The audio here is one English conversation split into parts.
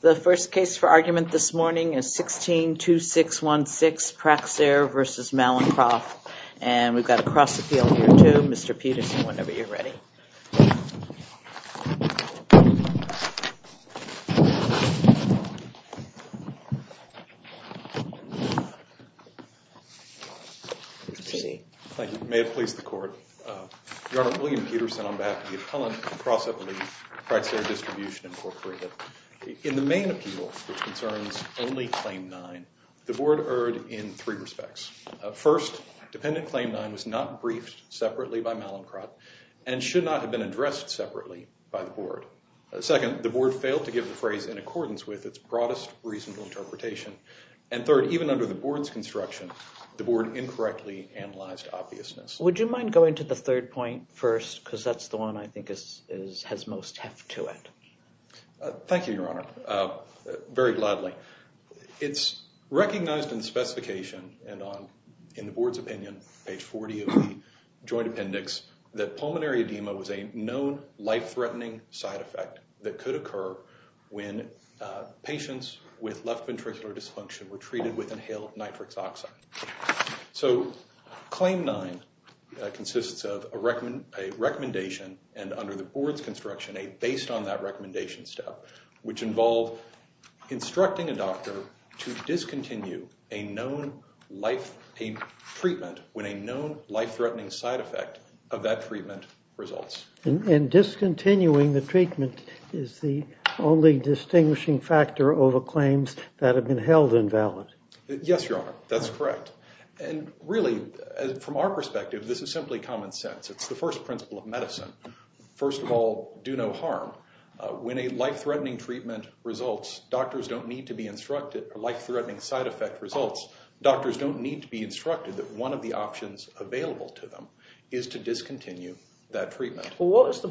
The first case for argument this morning is 16-2616, Praxair v. Mallinckrodt. And we've got a cross-appeal here too. Mr. Peterson, whenever you're ready. Thank you. May it please the court. Your Honor, William Peterson on behalf of the Appellant and Cross-Appellee, Praxair Distribution, Inc. In the main appeal, which concerns only Claim 9, the Board erred in three respects. First, Dependent Claim 9 was not briefed separately by Mallinckrodt and should not have been addressed separately by the Board. Second, the Board failed to give the phrase in accordance with its broadest reasonable interpretation. And third, even under the Board's construction, the Board incorrectly analyzed obviousness. Would you mind going to the third point first? Because that's the one I think has most heft to it. Thank you, Your Honor. Very gladly. It's recognized in the specification and on, in the Board's opinion, page 40 of the Joint Appendix, that pulmonary edema was a known life-threatening side effect that could occur when patients with left ventricular dysfunction were treated with inhaled nitric oxide. So Claim 9 consists of a recommendation, and under the Board's construction, a based on that recommendation step, which involved instructing a doctor to discontinue a known life-threatening treatment when a known life-threatening side effect of that treatment results. And discontinuing the treatment is the only distinguishing factor over claims that have been held invalid. Yes, Your Honor, that's correct. And really, from our perspective, this is simply common sense. It's the first principle of medicine. First of all, do no harm. When a life-threatening treatment results, doctors don't need to be instructed, or life-threatening side effect results, doctors don't need to be instructed that one of the options available to them is to discontinue that treatment. Well, what is the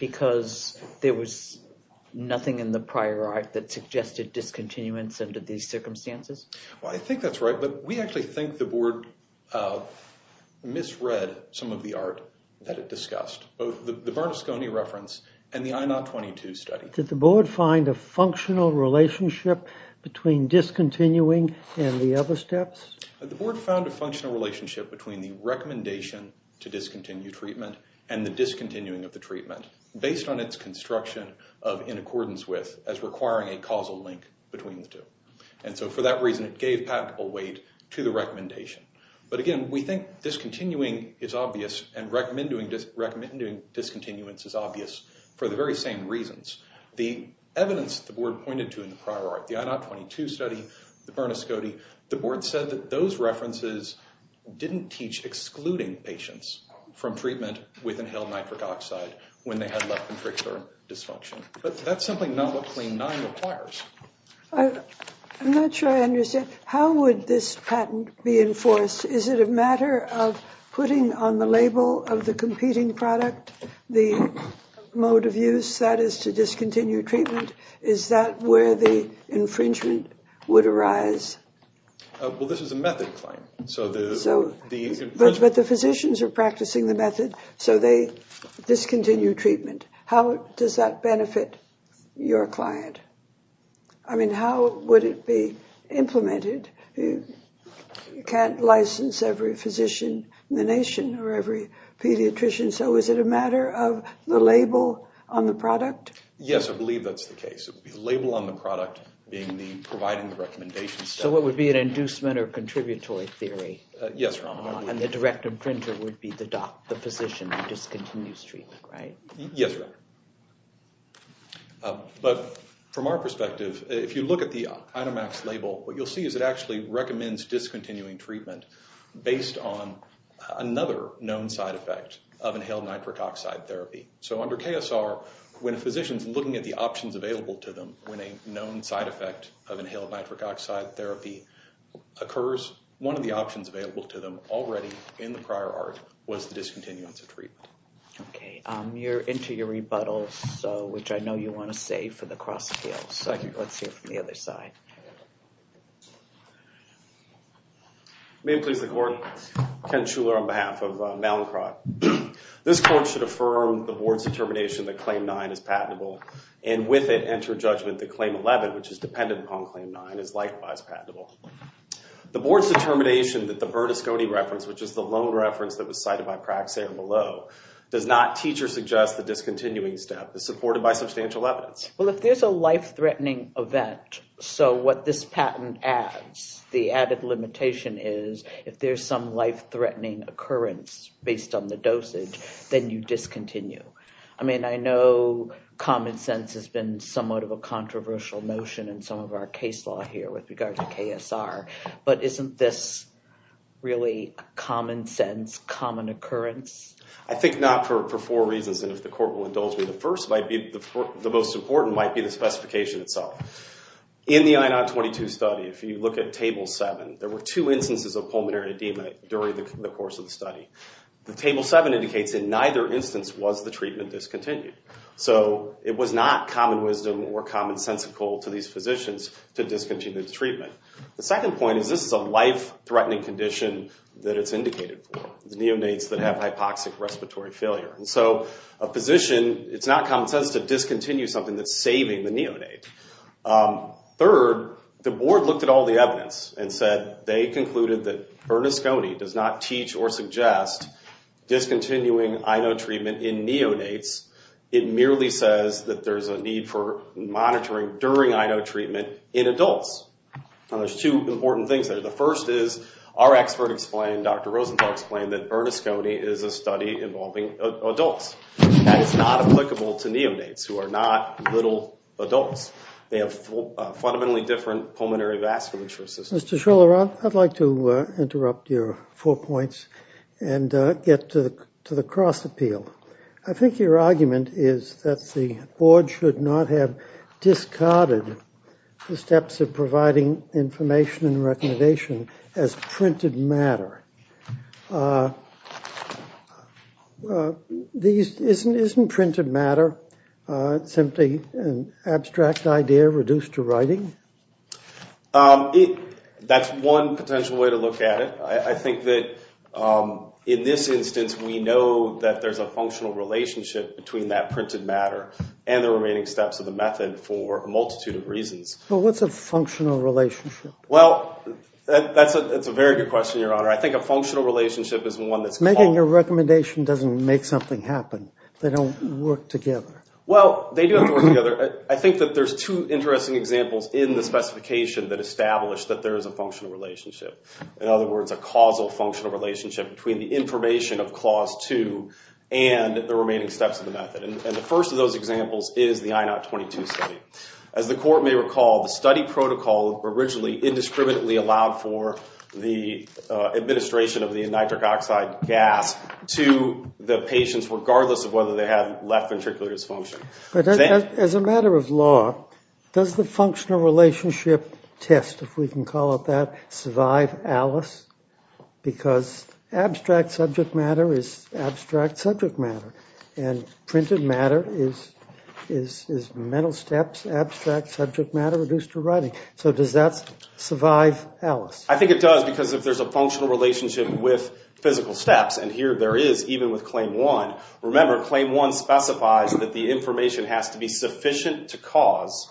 because there was nothing in the prior art that suggested discontinuance under these circumstances? Well, I think that's right, but we actually think the Board misread some of the art that it discussed, both the Barnasconi reference and the I-022 study. Did the Board find a functional relationship between discontinuing and the other steps? The Board found a functional relationship between the recommendation to discontinue treatment and the discontinuing of the treatment, based on its construction of in accordance with, as requiring a causal link between the two. And so for that reason, it gave patentable weight to the recommendation. But again, we think discontinuing is obvious and recommending discontinuance is obvious for the very same reasons. The evidence the Board pointed to in the prior art, the I-022 study, the Barnasconi, the Board said that those references didn't teach excluding patients from treatment with inhaled nitric oxide when they had left ventricular dysfunction. But that's something not what CLAIM 9 requires. I'm not sure I understand. How would this patent be enforced? Is it a matter of putting on the label of the competing product the mode of use that is to discontinue treatment? Is that where the infringement would arise? Well, this is a method claim. But the physicians are practicing the method, so they discontinue treatment. How does that benefit your client? I mean, how would it be implemented? You can't license every physician in the nation or every pediatrician. So is it a matter of the label on the product? Yes, I believe that's the case. It would be the label on the product being the providing the recommendations. So it would be an inducement or contributory theory? Yes, Your Honor. And the direct infringer would be the physician who discontinues treatment, right? Yes, Your Honor. But from our perspective, if you look at the item X label, what you'll see is it actually recommends discontinuing treatment based on another known side effect of inhaled nitric oxide therapy. So under KSR, when a physician's looking at the options available to them, when a known side effect of inhaled nitric oxide therapy occurs, one of the options available to them already in the prior art was the discontinuance of treatment. Okay, you're into your rebuttals, which I know you want to save for the cross-appeals. So let's hear from the other side. May it please the Court. Ken Schuler on behalf of Malincroft. This Court should affirm the Board's determination that Claim 9 is patentable, and with it, enter judgment that Claim 11, which is dependent upon Claim 9, is likewise patentable. The Board's determination that the Bernasconi reference, which is the loan reference that was cited by Praxair below, does not teach or suggest the discontinuing step is supported by substantial evidence. Well, if there's a life-threatening event, so what this patent adds, the added limitation is if there's some life-threatening occurrence based on the dosage, then you discontinue. I mean, I know common sense has been somewhat of a controversial notion in some of our case law here with regard to KSR, but isn't this really common sense, common occurrence? I think not for four reasons, and if the Court will indulge me, the first might be, the most important might be the specification itself. In the I-022 study, if you look at Table 7, there were two instances of pulmonary edema during the course of the study. The Table 7 indicates in neither instance was the treatment discontinued, so it was not common wisdom or commonsensical to these physicians to discontinue the treatment. The second point is this is a life-threatening condition that it's indicated for, the neonates that have hypoxic respiratory failure, and so a physician, it's not common sense to discontinue something that's saving the neonate. Third, the Board looked at all the evidence and said they concluded that Bernasconi does not teach or suggest discontinuing I-0 treatment in neonates. It merely says that there's a need for monitoring during I-0 treatment in adults. Now, there's two important things there. The first is our expert explained, Dr. Rosenthal explained, that Bernasconi is a study involving adults, and it's not applicable to neonates, who are not little adults. They have fundamentally different pulmonary vasculature systems. Mr. Schiller, I'd like to interrupt your four points and get to the cross-appeal. I think your argument is that the Board should not have discarded the steps of the method. Isn't printed matter simply an abstract idea reduced to writing? That's one potential way to look at it. I think that in this instance, we know that there's a functional relationship between that printed matter and the remaining steps of the method for a multitude of reasons. Well, what's a functional relationship? Well, that's a very good question, Your Honor. I think a functional relationship is one that's... Making a work together. Well, they do have to work together. I think that there's two interesting examples in the specification that establish that there is a functional relationship. In other words, a causal functional relationship between the information of Clause 2 and the remaining steps of the method. The first of those examples is the I-022 study. As the Court may recall, the study protocol originally indiscriminately allowed for the administration of the nitric oxide gas to the patients regardless of whether they had left ventricular dysfunction. As a matter of law, does the functional relationship test, if we can call it that, survive Alice? Because abstract subject matter is abstract subject matter, and printed matter is mental steps, abstract subject matter reduced to writing. So does that survive Alice? I think it does because if there's a functional relationship with physical steps, and here there is even with Claim 1. Remember, Claim 1 specifies that the information has to be sufficient to cause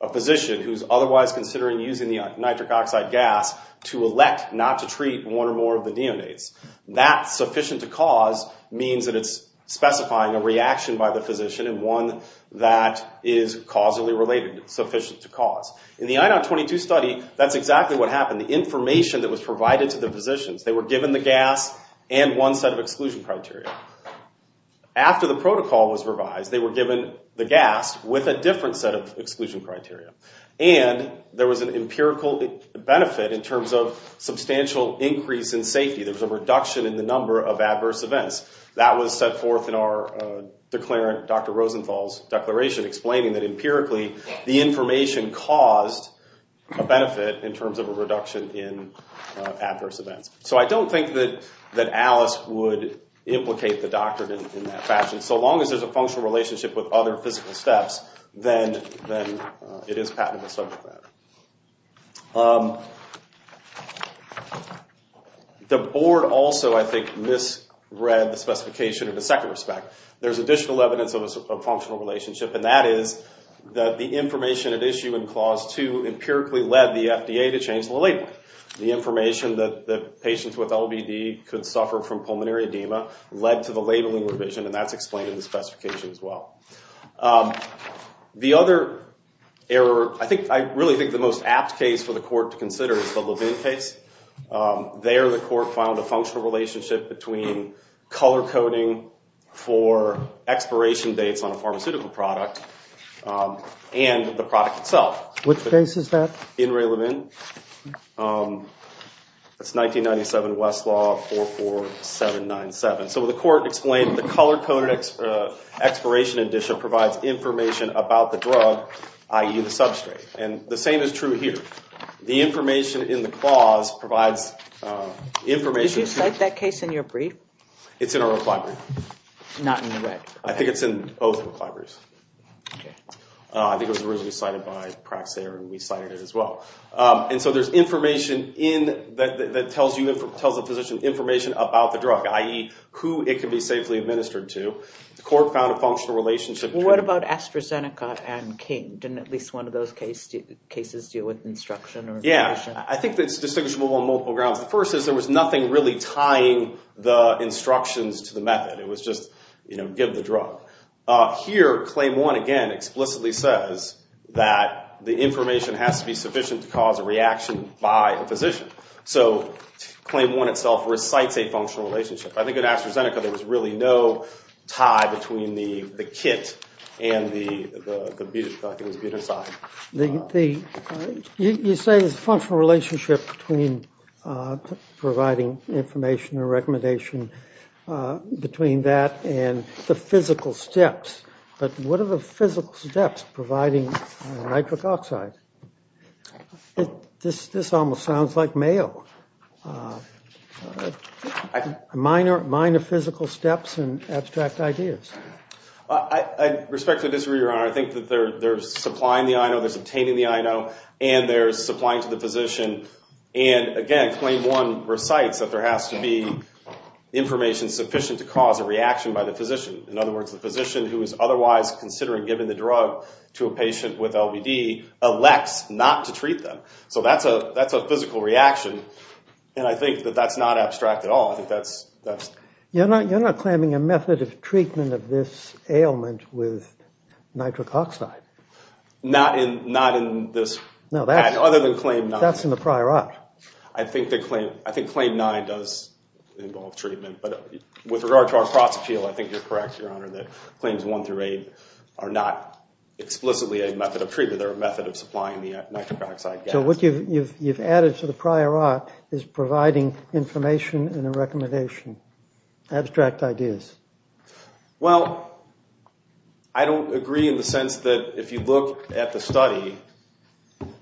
a physician who's otherwise considering using the nitric oxide gas to elect not to treat one or more of the neonates. That sufficient to cause means that it's specifying a reaction by the physician and one that is causally related, sufficient to cause. In the I-022 study, that's exactly what happened. The information that was provided to the physicians, they were given the gas and one set of exclusion criteria. After the protocol was revised, they were given the gas with a different set of exclusion criteria, and there was an empirical benefit in terms of substantial increase in safety. There was a reduction in the number of adverse events. That was set forth in our declarant, Dr. Rosenthal's declaration, explaining that empirically the information caused a benefit in terms of a reduction in adverse events. So I don't think that Alice would implicate the doctrine in that fashion. So long as there's a functional relationship with other physical steps, then it is patently subject matter. The board also, I think, misread the specification of the second respect. There's additional evidence of a functional relationship, and that is that the information at issue in Clause 2 empirically led the FDA to change the labeling. The information that patients with LBD could suffer from pulmonary edema led to the labeling revision, and that's explained in the specification as well. The other error, I really think the most apt case for the court to consider is the Levine case. There, the court found a functional relationship between color-coding for expiration dates on a pharmaceutical product and the product itself. Which case is that? In Ray Levine. That's 1997 Westlaw 44797. So the court explained the color-coded expiration edition provides information about the drug, i.e. the substrate. And the same is true here. The information in the clause provides information. Did you cite that case in your brief? It's in our rec library. Not in the rec? I think it's in both rec libraries. I think it was originally cited by Praxair, and we cited it as well. And so there's information that tells the physician information about the drug, i.e. who it can be safely administered to. The court found a functional relationship. What about AstraZeneca and King? Didn't at least one of those cases deal with instruction? Yeah, I think that's distinguishable on multiple grounds. The first is there was nothing really tying the instructions to the method. It was just, you know, give the drug. Here, Claim 1, again, explicitly says that the information has to be sufficient to cause a reaction by a physician. So Claim 1 itself recites a functional relationship. I think in AstraZeneca, there was really no tie between the kit and the drug. You say there's a functional relationship between providing information or recommendation between that and the physical steps. But what are the physical steps providing nitric oxide? This almost sounds like Mayo. Minor physical steps and abstract ideas. I respectfully disagree, Your Honor. I think that there's supplying the I know, there's obtaining the I know, and there's supplying to the physician. And again, Claim 1 recites that there has to be information sufficient to cause a reaction by the physician. In other words, the physician who is otherwise considering giving the drug to a patient with LVD elects not to treat them. So that's a physical reaction. And I think that that's not abstract at all. You're not claiming a method of treatment of this ailment with nitric oxide. Not in this, other than Claim 9. That's in the prior art. I think Claim 9 does involve treatment. But with regard to our cross appeal, I think you're correct, Your Honor, that Claims 1 through 8 are not explicitly a method of treatment. They're a method of supplying the nitric oxide. So what you've added to the prior art is providing information and a recommendation. Abstract ideas. Well, I don't agree in the sense that if you look at the study,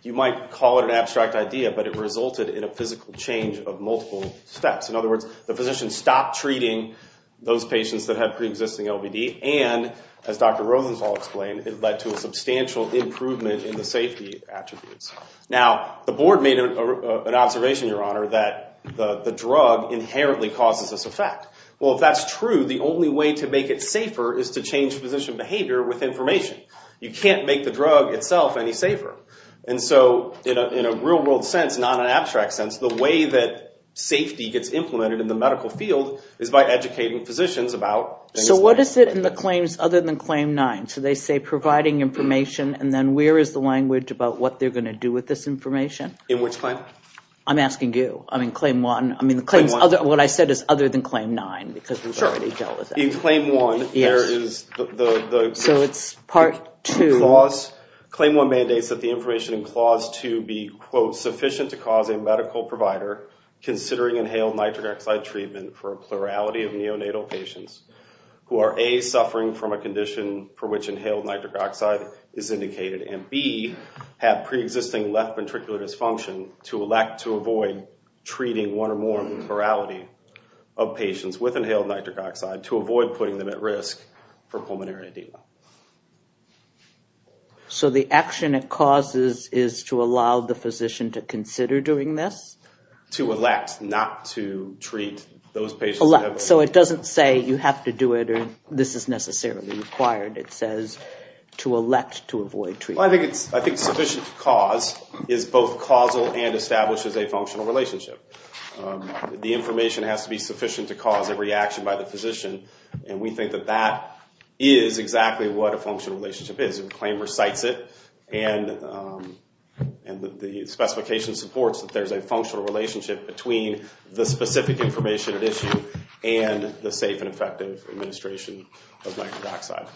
you might call it an abstract idea, but it resulted in a physical change of multiple steps. In other words, the physician stopped treating those patients that have pre-existing LVD. And as Dr. Rodenthal explained, it led to a substantial improvement in the safety attributes. Now, the board made an observation, Your Honor, that the drug inherently causes this effect. Well, if that's true, the only way to make it safer is to change physician behavior with information. You can't make the drug itself any safer. And so in a real world sense, not an abstract sense, the way that safety gets implemented in the medical field is by educating physicians about... So what is it in the claims other than Claim 9? So they say providing information, and then where is the language about what they're going to do with this information? In which claim? I'm asking you. I mean, Claim 1. I mean, what I said is other than Claim 9, because we've already dealt with that. In Claim 1, there is the... So it's Part 2. Claim 1 mandates that the information in Clause 2 be, quote, sufficient to cause a medical provider considering inhaled nitric oxide treatment for a plurality of neonatal patients who are, A, have pre-existing left ventricular dysfunction to elect to avoid treating one or more plurality of patients with inhaled nitric oxide to avoid putting them at risk for pulmonary edema. So the action it causes is to allow the physician to consider doing this? To elect not to treat those patients... Elect. So it doesn't say you have to do it, this is necessarily required. It says to elect to avoid treatment. I think sufficient to cause is both causal and establishes a functional relationship. The information has to be sufficient to cause a reaction by the physician, and we think that that is exactly what a functional relationship is. And the claim recites it, and the specification supports that there's a functional relationship between the specific information at issue and the safe and effective administration of nitric oxide.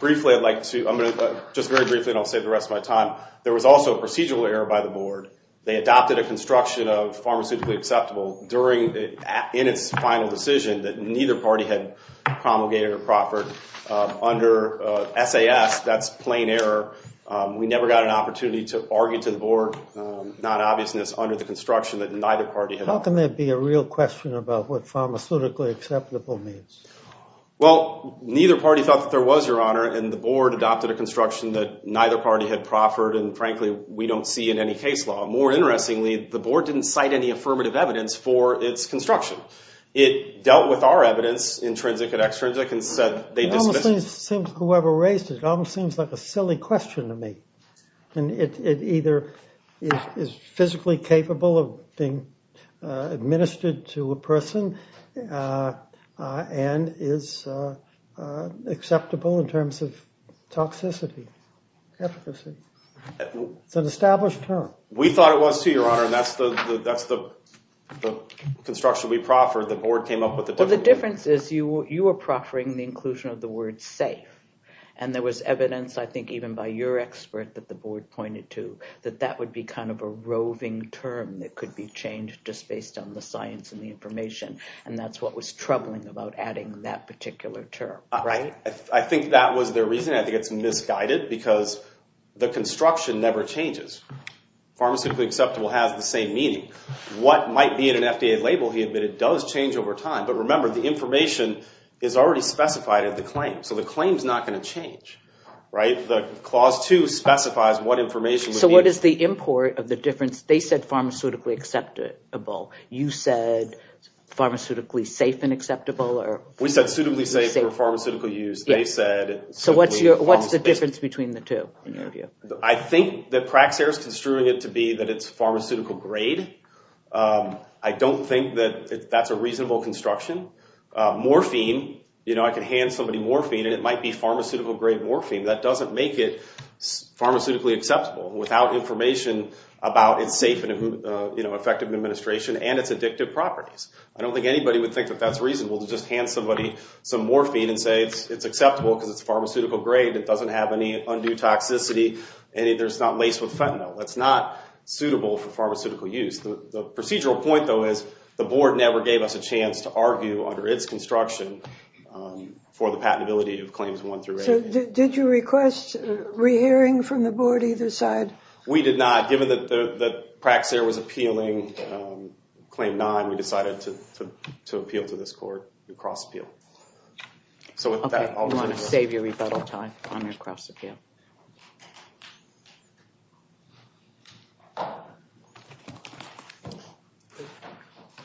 Briefly, I'd like to... I'm going to... Just very briefly and I'll save the rest of my time. There was also a procedural error by the board. They adopted a construction of pharmaceutically acceptable during... In its final decision that neither party had promulgated or proffered under SAS. That's plain error. We never got an opportunity to argue to the board non-obviousness under the construction that neither party had... How can there be a real question about what pharmaceutically acceptable means? Well, neither party thought that there was, Your Honor, and the board adopted a construction that neither party had proffered, and frankly, we don't see in any case law. More interestingly, the board didn't cite any affirmative evidence for its construction. It dealt with our evidence, intrinsic and extrinsic, and said they dismissed... It almost seems whoever raised it, seems like a silly question to me, and it either is physically capable of being administered to a person and is acceptable in terms of toxicity, efficacy. It's an established term. We thought it was too, Your Honor, and that's the construction we proffered. The board came up with the... Well, the difference is you were proffering the inclusion of the word safe, and there was evidence, I think, even by your expert that the board pointed to that that would be kind of a roving term that could be changed just based on the science and the information, and that's what was troubling about adding that particular term, right? I think that was their reason. I think it's misguided because the construction never changes. Pharmaceutically acceptable has the same meaning. What might be in an FDA label, he admitted, does change over time, but remember, the information is already specified in the claim, so the claim's not going to change, right? The Clause 2 specifies what information would be... So what is the import of the difference? They said pharmaceutically acceptable. You said pharmaceutically safe and acceptable, or... We said suitably safe for pharmaceutical use. They said... So what's the difference between the two in your view? I think that Praxair is construing it to be that it's pharmaceutical grade. I don't think that that's a reasonable construction. Morphine, you know, I can hand somebody morphine, and it might be pharmaceutical grade morphine. That doesn't make it pharmaceutically acceptable without information about its safe and effective administration and its addictive properties. I don't think anybody would think that that's reasonable to just hand somebody some morphine and say it's acceptable because it's pharmaceutical grade, it doesn't have any undue toxicity, and it's not laced with fentanyl. That's not suitable for pharmaceutical use. The procedural point, though, is the board never gave us a chance to argue under its construction for the patentability of claims one through eight. Did you request re-hearing from the board either side? We did not. Given that Praxair was appealing claim nine, we decided to appeal to this court in cross-appeal. So with that, I'll turn it over. Okay. You want to save your rebuttal time on your cross-appeal.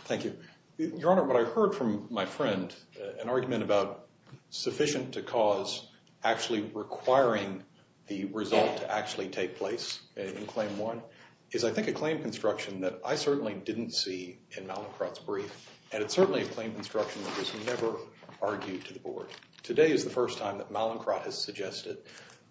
Thank you. Your Honor, what I heard from my friend, an argument about sufficient to cause, actually requiring the result to actually take place in claim one, is I think a claim construction that I certainly didn't see in Mallincrott's brief, and it's certainly a claim construction that was never argued to the board. Today is the first time that Mallincrott has suggested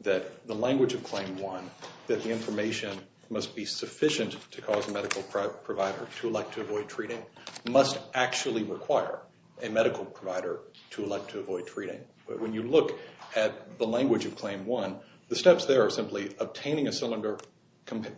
that the language of claim one, that the information must be sufficient to cause a medical provider to elect to avoid treating, must actually require a medical provider to elect to avoid treating. But when you look at the language of claim one, the steps there are simply obtaining a cylinder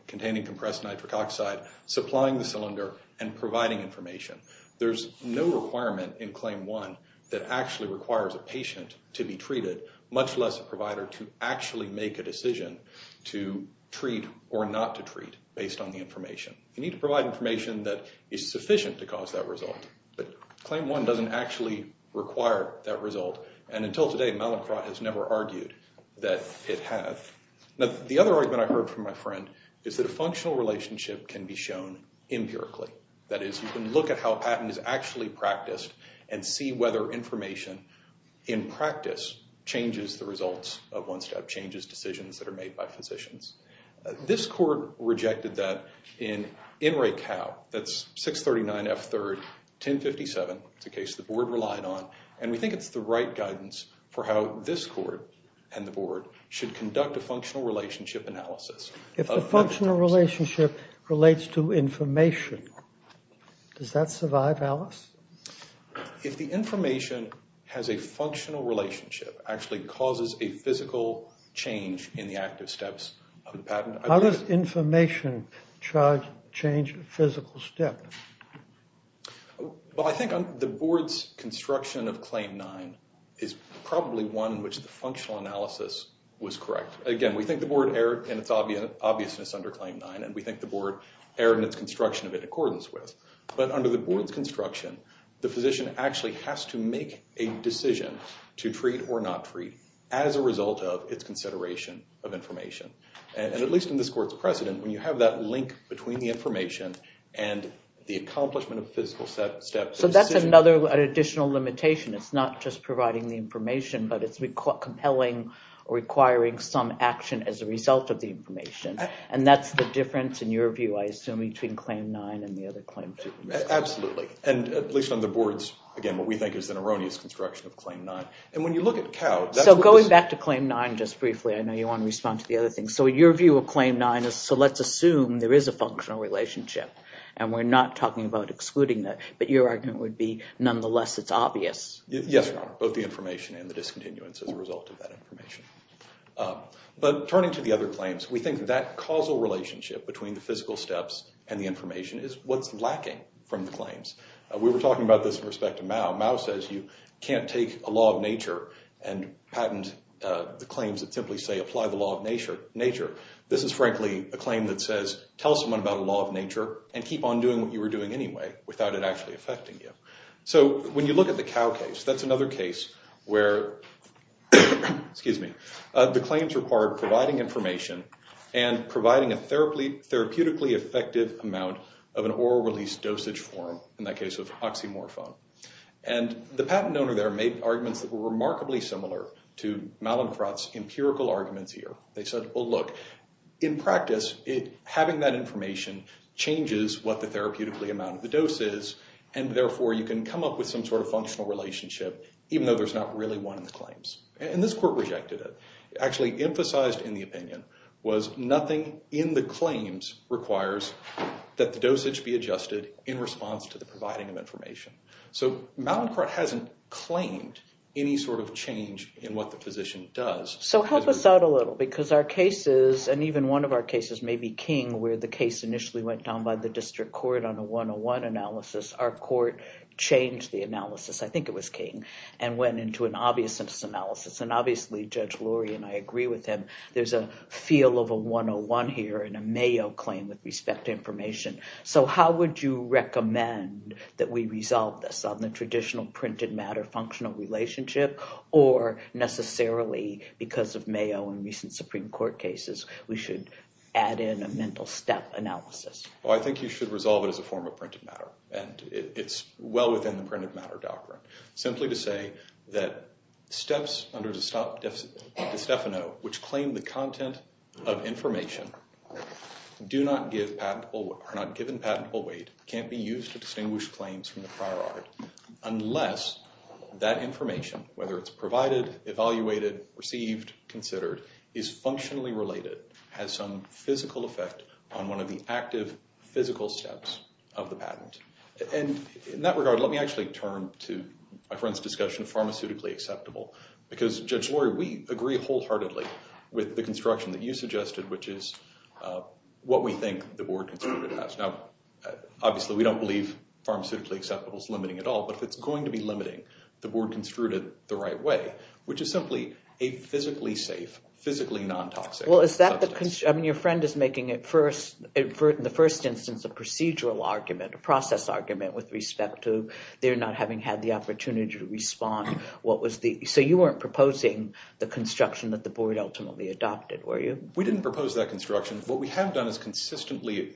containing compressed nitric oxide, supplying the cylinder, and providing information. There's no requirement in claim one that actually requires a patient to be treated, much less a provider to actually make a decision to treat or not to treat based on the information. You need to provide information that is sufficient to cause that result, but claim one doesn't actually require that result. And until today, Mallincrott has never argued that it has. The other argument I heard from my friend is that a functional relationship can be shown empirically. That is, you can look at how a patent is actually practiced and see whether information in practice changes the results of one step, changes decisions that are made by physicians. This court rejected that in NRACAL. That's 639 F3rd 1057. It's a case the board relied on, and we think it's the right guidance for how this court and the board should conduct a functional relationship analysis. If the functional relationship relates to information, does that actually cause a physical change in the active steps of the patent? How does information change a physical step? Well, I think the board's construction of claim nine is probably one in which the functional analysis was correct. Again, we think the board erred in its obviousness under claim nine, and we think the board erred in its construction of it in accordance with. But under the board's make a decision to treat or not treat as a result of its consideration of information. And at least in this court's precedent, when you have that link between the information and the accomplishment of physical steps... So that's another additional limitation. It's not just providing the information, but it's compelling, requiring some action as a result of the information. And that's the difference, in your view, I assume, between claim nine and the other claim two. Absolutely. And at least on the board's, again, what we think is an erroneous construction of claim nine. And when you look at COW... So going back to claim nine just briefly, I know you want to respond to the other thing. So your view of claim nine is, so let's assume there is a functional relationship, and we're not talking about excluding that. But your argument would be, nonetheless, it's obvious. Yes, Your Honor, both the information and the discontinuance as a result of that information. But turning to the other claims, we think that causal relationship between the physical steps and the information is what's lacking from the claims. We were talking about this in respect to Mao. Mao says you can't take a law of nature and patent the claims that simply say apply the law of nature. This is frankly a claim that says, tell someone about a law of nature and keep on doing what you were doing anyway without it actually affecting you. So when you look at the COW case, that's another case where... amount of an oral release dosage form, in that case of oxymorphone. And the patent owner there made arguments that were remarkably similar to Mallinckrodt's empirical arguments here. They said, well, look, in practice, having that information changes what the therapeutically amount of the dose is. And therefore, you can come up with some sort of functional relationship, even though there's not really one in the claims. And this court rejected it. Actually emphasized in the opinion was nothing in the claims requires that the dosage be adjusted in response to the providing of information. So Mallinckrodt hasn't claimed any sort of change in what the physician does. So help us out a little because our cases and even one of our cases may be king where the case initially went down by the district court on a 101 analysis. Our court changed the analysis. I think it was king and went into an obvious analysis. And I agree with him. There's a feel of a 101 here and a Mayo claim with respect to information. So how would you recommend that we resolve this on the traditional printed matter functional relationship or necessarily because of Mayo and recent Supreme Court cases, we should add in a mental step analysis? Well, I think you should resolve it as a form of printed matter. And it's well within the printed matter doctrine. Simply to say that steps under De Stefano which claim the content of information are not given patentable weight can't be used to distinguish claims from the prior art unless that information, whether it's provided, evaluated, received, considered, is functionally related, has some physical effect on one of the active physical steps of the patent. And in that regard, let me actually turn to my friend's discussion of pharmaceutically acceptable. Because, Judge Lori, we agree wholeheartedly with the construction that you suggested, which is what we think the board construed it as. Now, obviously, we don't believe pharmaceutically acceptable is limiting at all. But if it's going to be limiting, the board construed it the right way, which is simply a physically safe, physically non-toxic substance. Well, is that the concern? I mean, your friend is making it first, in the first instance, a procedural argument, a process argument with respect to their not having had the opportunity to respond. So you weren't proposing the construction that the board ultimately adopted, were you? We didn't propose that construction. What we have done is consistently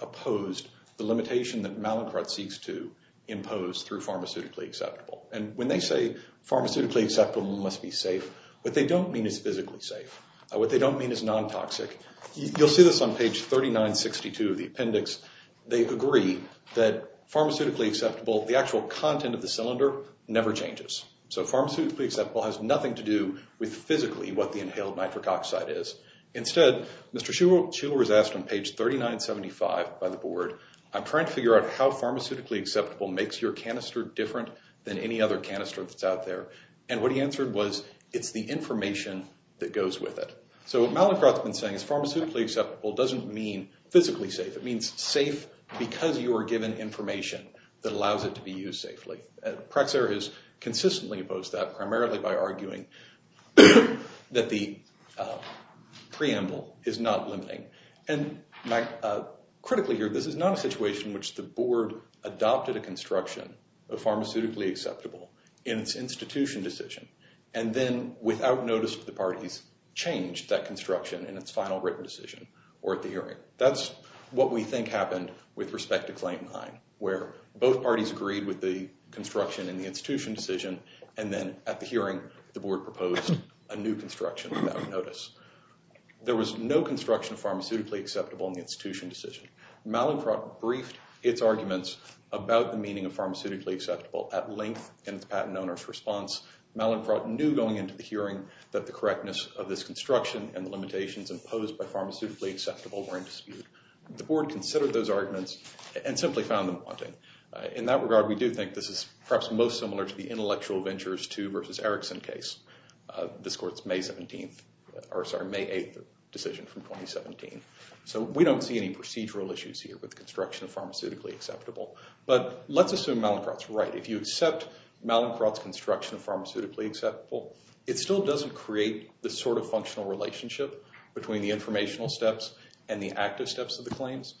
opposed the limitation that Mallicrat seeks to impose through pharmaceutically acceptable. And when they say pharmaceutically acceptable must be safe, what they don't mean is physically safe. What they don't mean is non-toxic. You'll see this page 3962 of the appendix. They agree that pharmaceutically acceptable, the actual content of the cylinder, never changes. So pharmaceutically acceptable has nothing to do with physically what the inhaled nitric oxide is. Instead, Mr. Shuler was asked on page 3975 by the board, I'm trying to figure out how pharmaceutically acceptable makes your canister different than any other canister that's out there. And what he answered was, it's the information that goes with it. So what Mallicrat's been saying is pharmaceutically acceptable doesn't mean physically safe. It means safe because you are given information that allows it to be used safely. Praxair has consistently opposed that, primarily by arguing that the preamble is not limiting. And critically here, this is not a situation in which the board adopted a construction of the parties changed that construction in its final written decision or at the hearing. That's what we think happened with respect to claim nine, where both parties agreed with the construction in the institution decision. And then at the hearing, the board proposed a new construction without notice. There was no construction of pharmaceutically acceptable in the institution decision. Mallicrat briefed its arguments about the meaning of pharmaceutically acceptable at patent owner's response. Mallicrat knew going into the hearing that the correctness of this construction and the limitations imposed by pharmaceutically acceptable were in dispute. The board considered those arguments and simply found them wanting. In that regard, we do think this is perhaps most similar to the intellectual ventures to versus Erickson case. This court's May 17th, or sorry, May 8th decision from 2017. So we don't see any procedural issues here with Mallicrat's construction of pharmaceutically acceptable. It still doesn't create the sort of functional relationship between the informational steps and the active steps of the claims.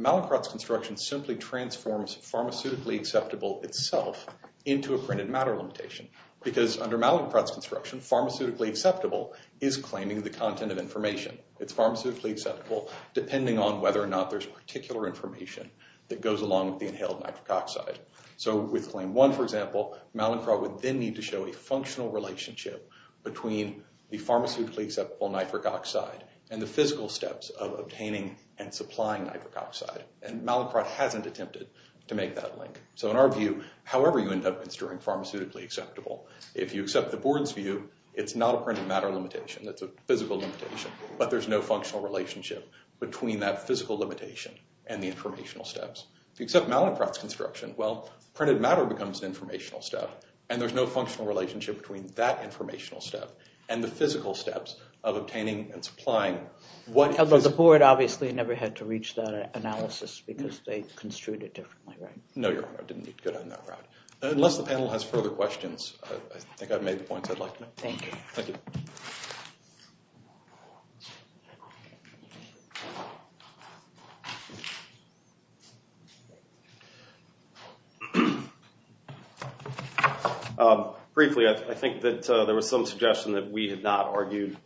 Mallicrat's construction simply transforms pharmaceutically acceptable itself into a printed matter limitation because under Mallicrat's construction, pharmaceutically acceptable is claiming the content of information. It's pharmaceutically acceptable depending on whether or not there's particular information that goes along with the inhaled nitric oxide. So with Mallicrat would then need to show a functional relationship between the pharmaceutically acceptable nitric oxide and the physical steps of obtaining and supplying nitric oxide. And Mallicrat hasn't attempted to make that link. So in our view, however you end up, it's during pharmaceutically acceptable. If you accept the board's view, it's not a printed matter limitation. It's a physical limitation, but there's no functional relationship between that physical limitation and the informational step. And there's no functional relationship between that informational step and the physical steps of obtaining and supplying. Although the board obviously never had to reach that analysis because they construed it differently, right? No, Your Honor. I didn't get good on that route. Unless the panel has further questions, I think I've made the points I'd like to make. Thank you. Briefly, I think that there was some suggestion that we had not argued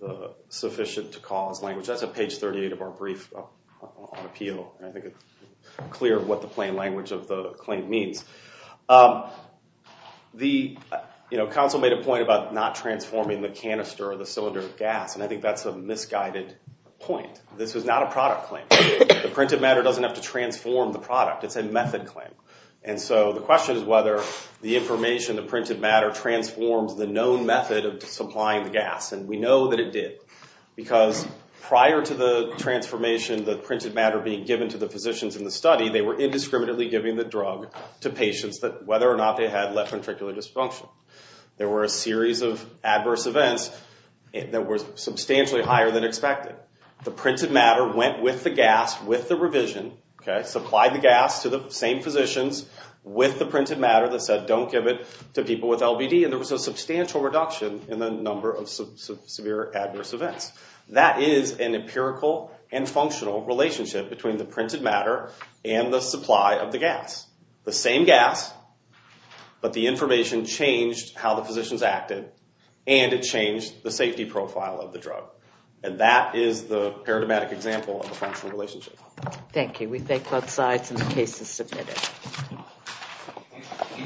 the sufficient to cause language. That's at page 38 of our brief on appeal. I think it's clear what the plain language of the claim means. The counsel made a point about not transforming the canister or the cylinder of gas, and I think that's a misguided point. This was not a product claim. The printed matter doesn't have to transform the product. It's a method claim. And so the question is whether the information, the printed matter transforms the known method of supplying the gas. And we know that it did. Because prior to the transformation, the printed matter being given to the physicians in the study, they were indiscriminately giving the drug to patients that whether or not they had left ventricular dysfunction. There were a series of adverse events that were substantially higher than expected. The printed matter went with the gas with the revision, supplied the gas to the same physicians with the printed matter that said don't give it to people with LBD. And there was a substantial reduction in the number of severe adverse events. That is an empirical and functional relationship between the printed matter and the supply of the gas. The same gas, but the information changed how the physicians acted and it changed the safety profile of the drug. And that is the paradigmatic example of a functional relationship. Thank you. We thank both sides and the case is submitted.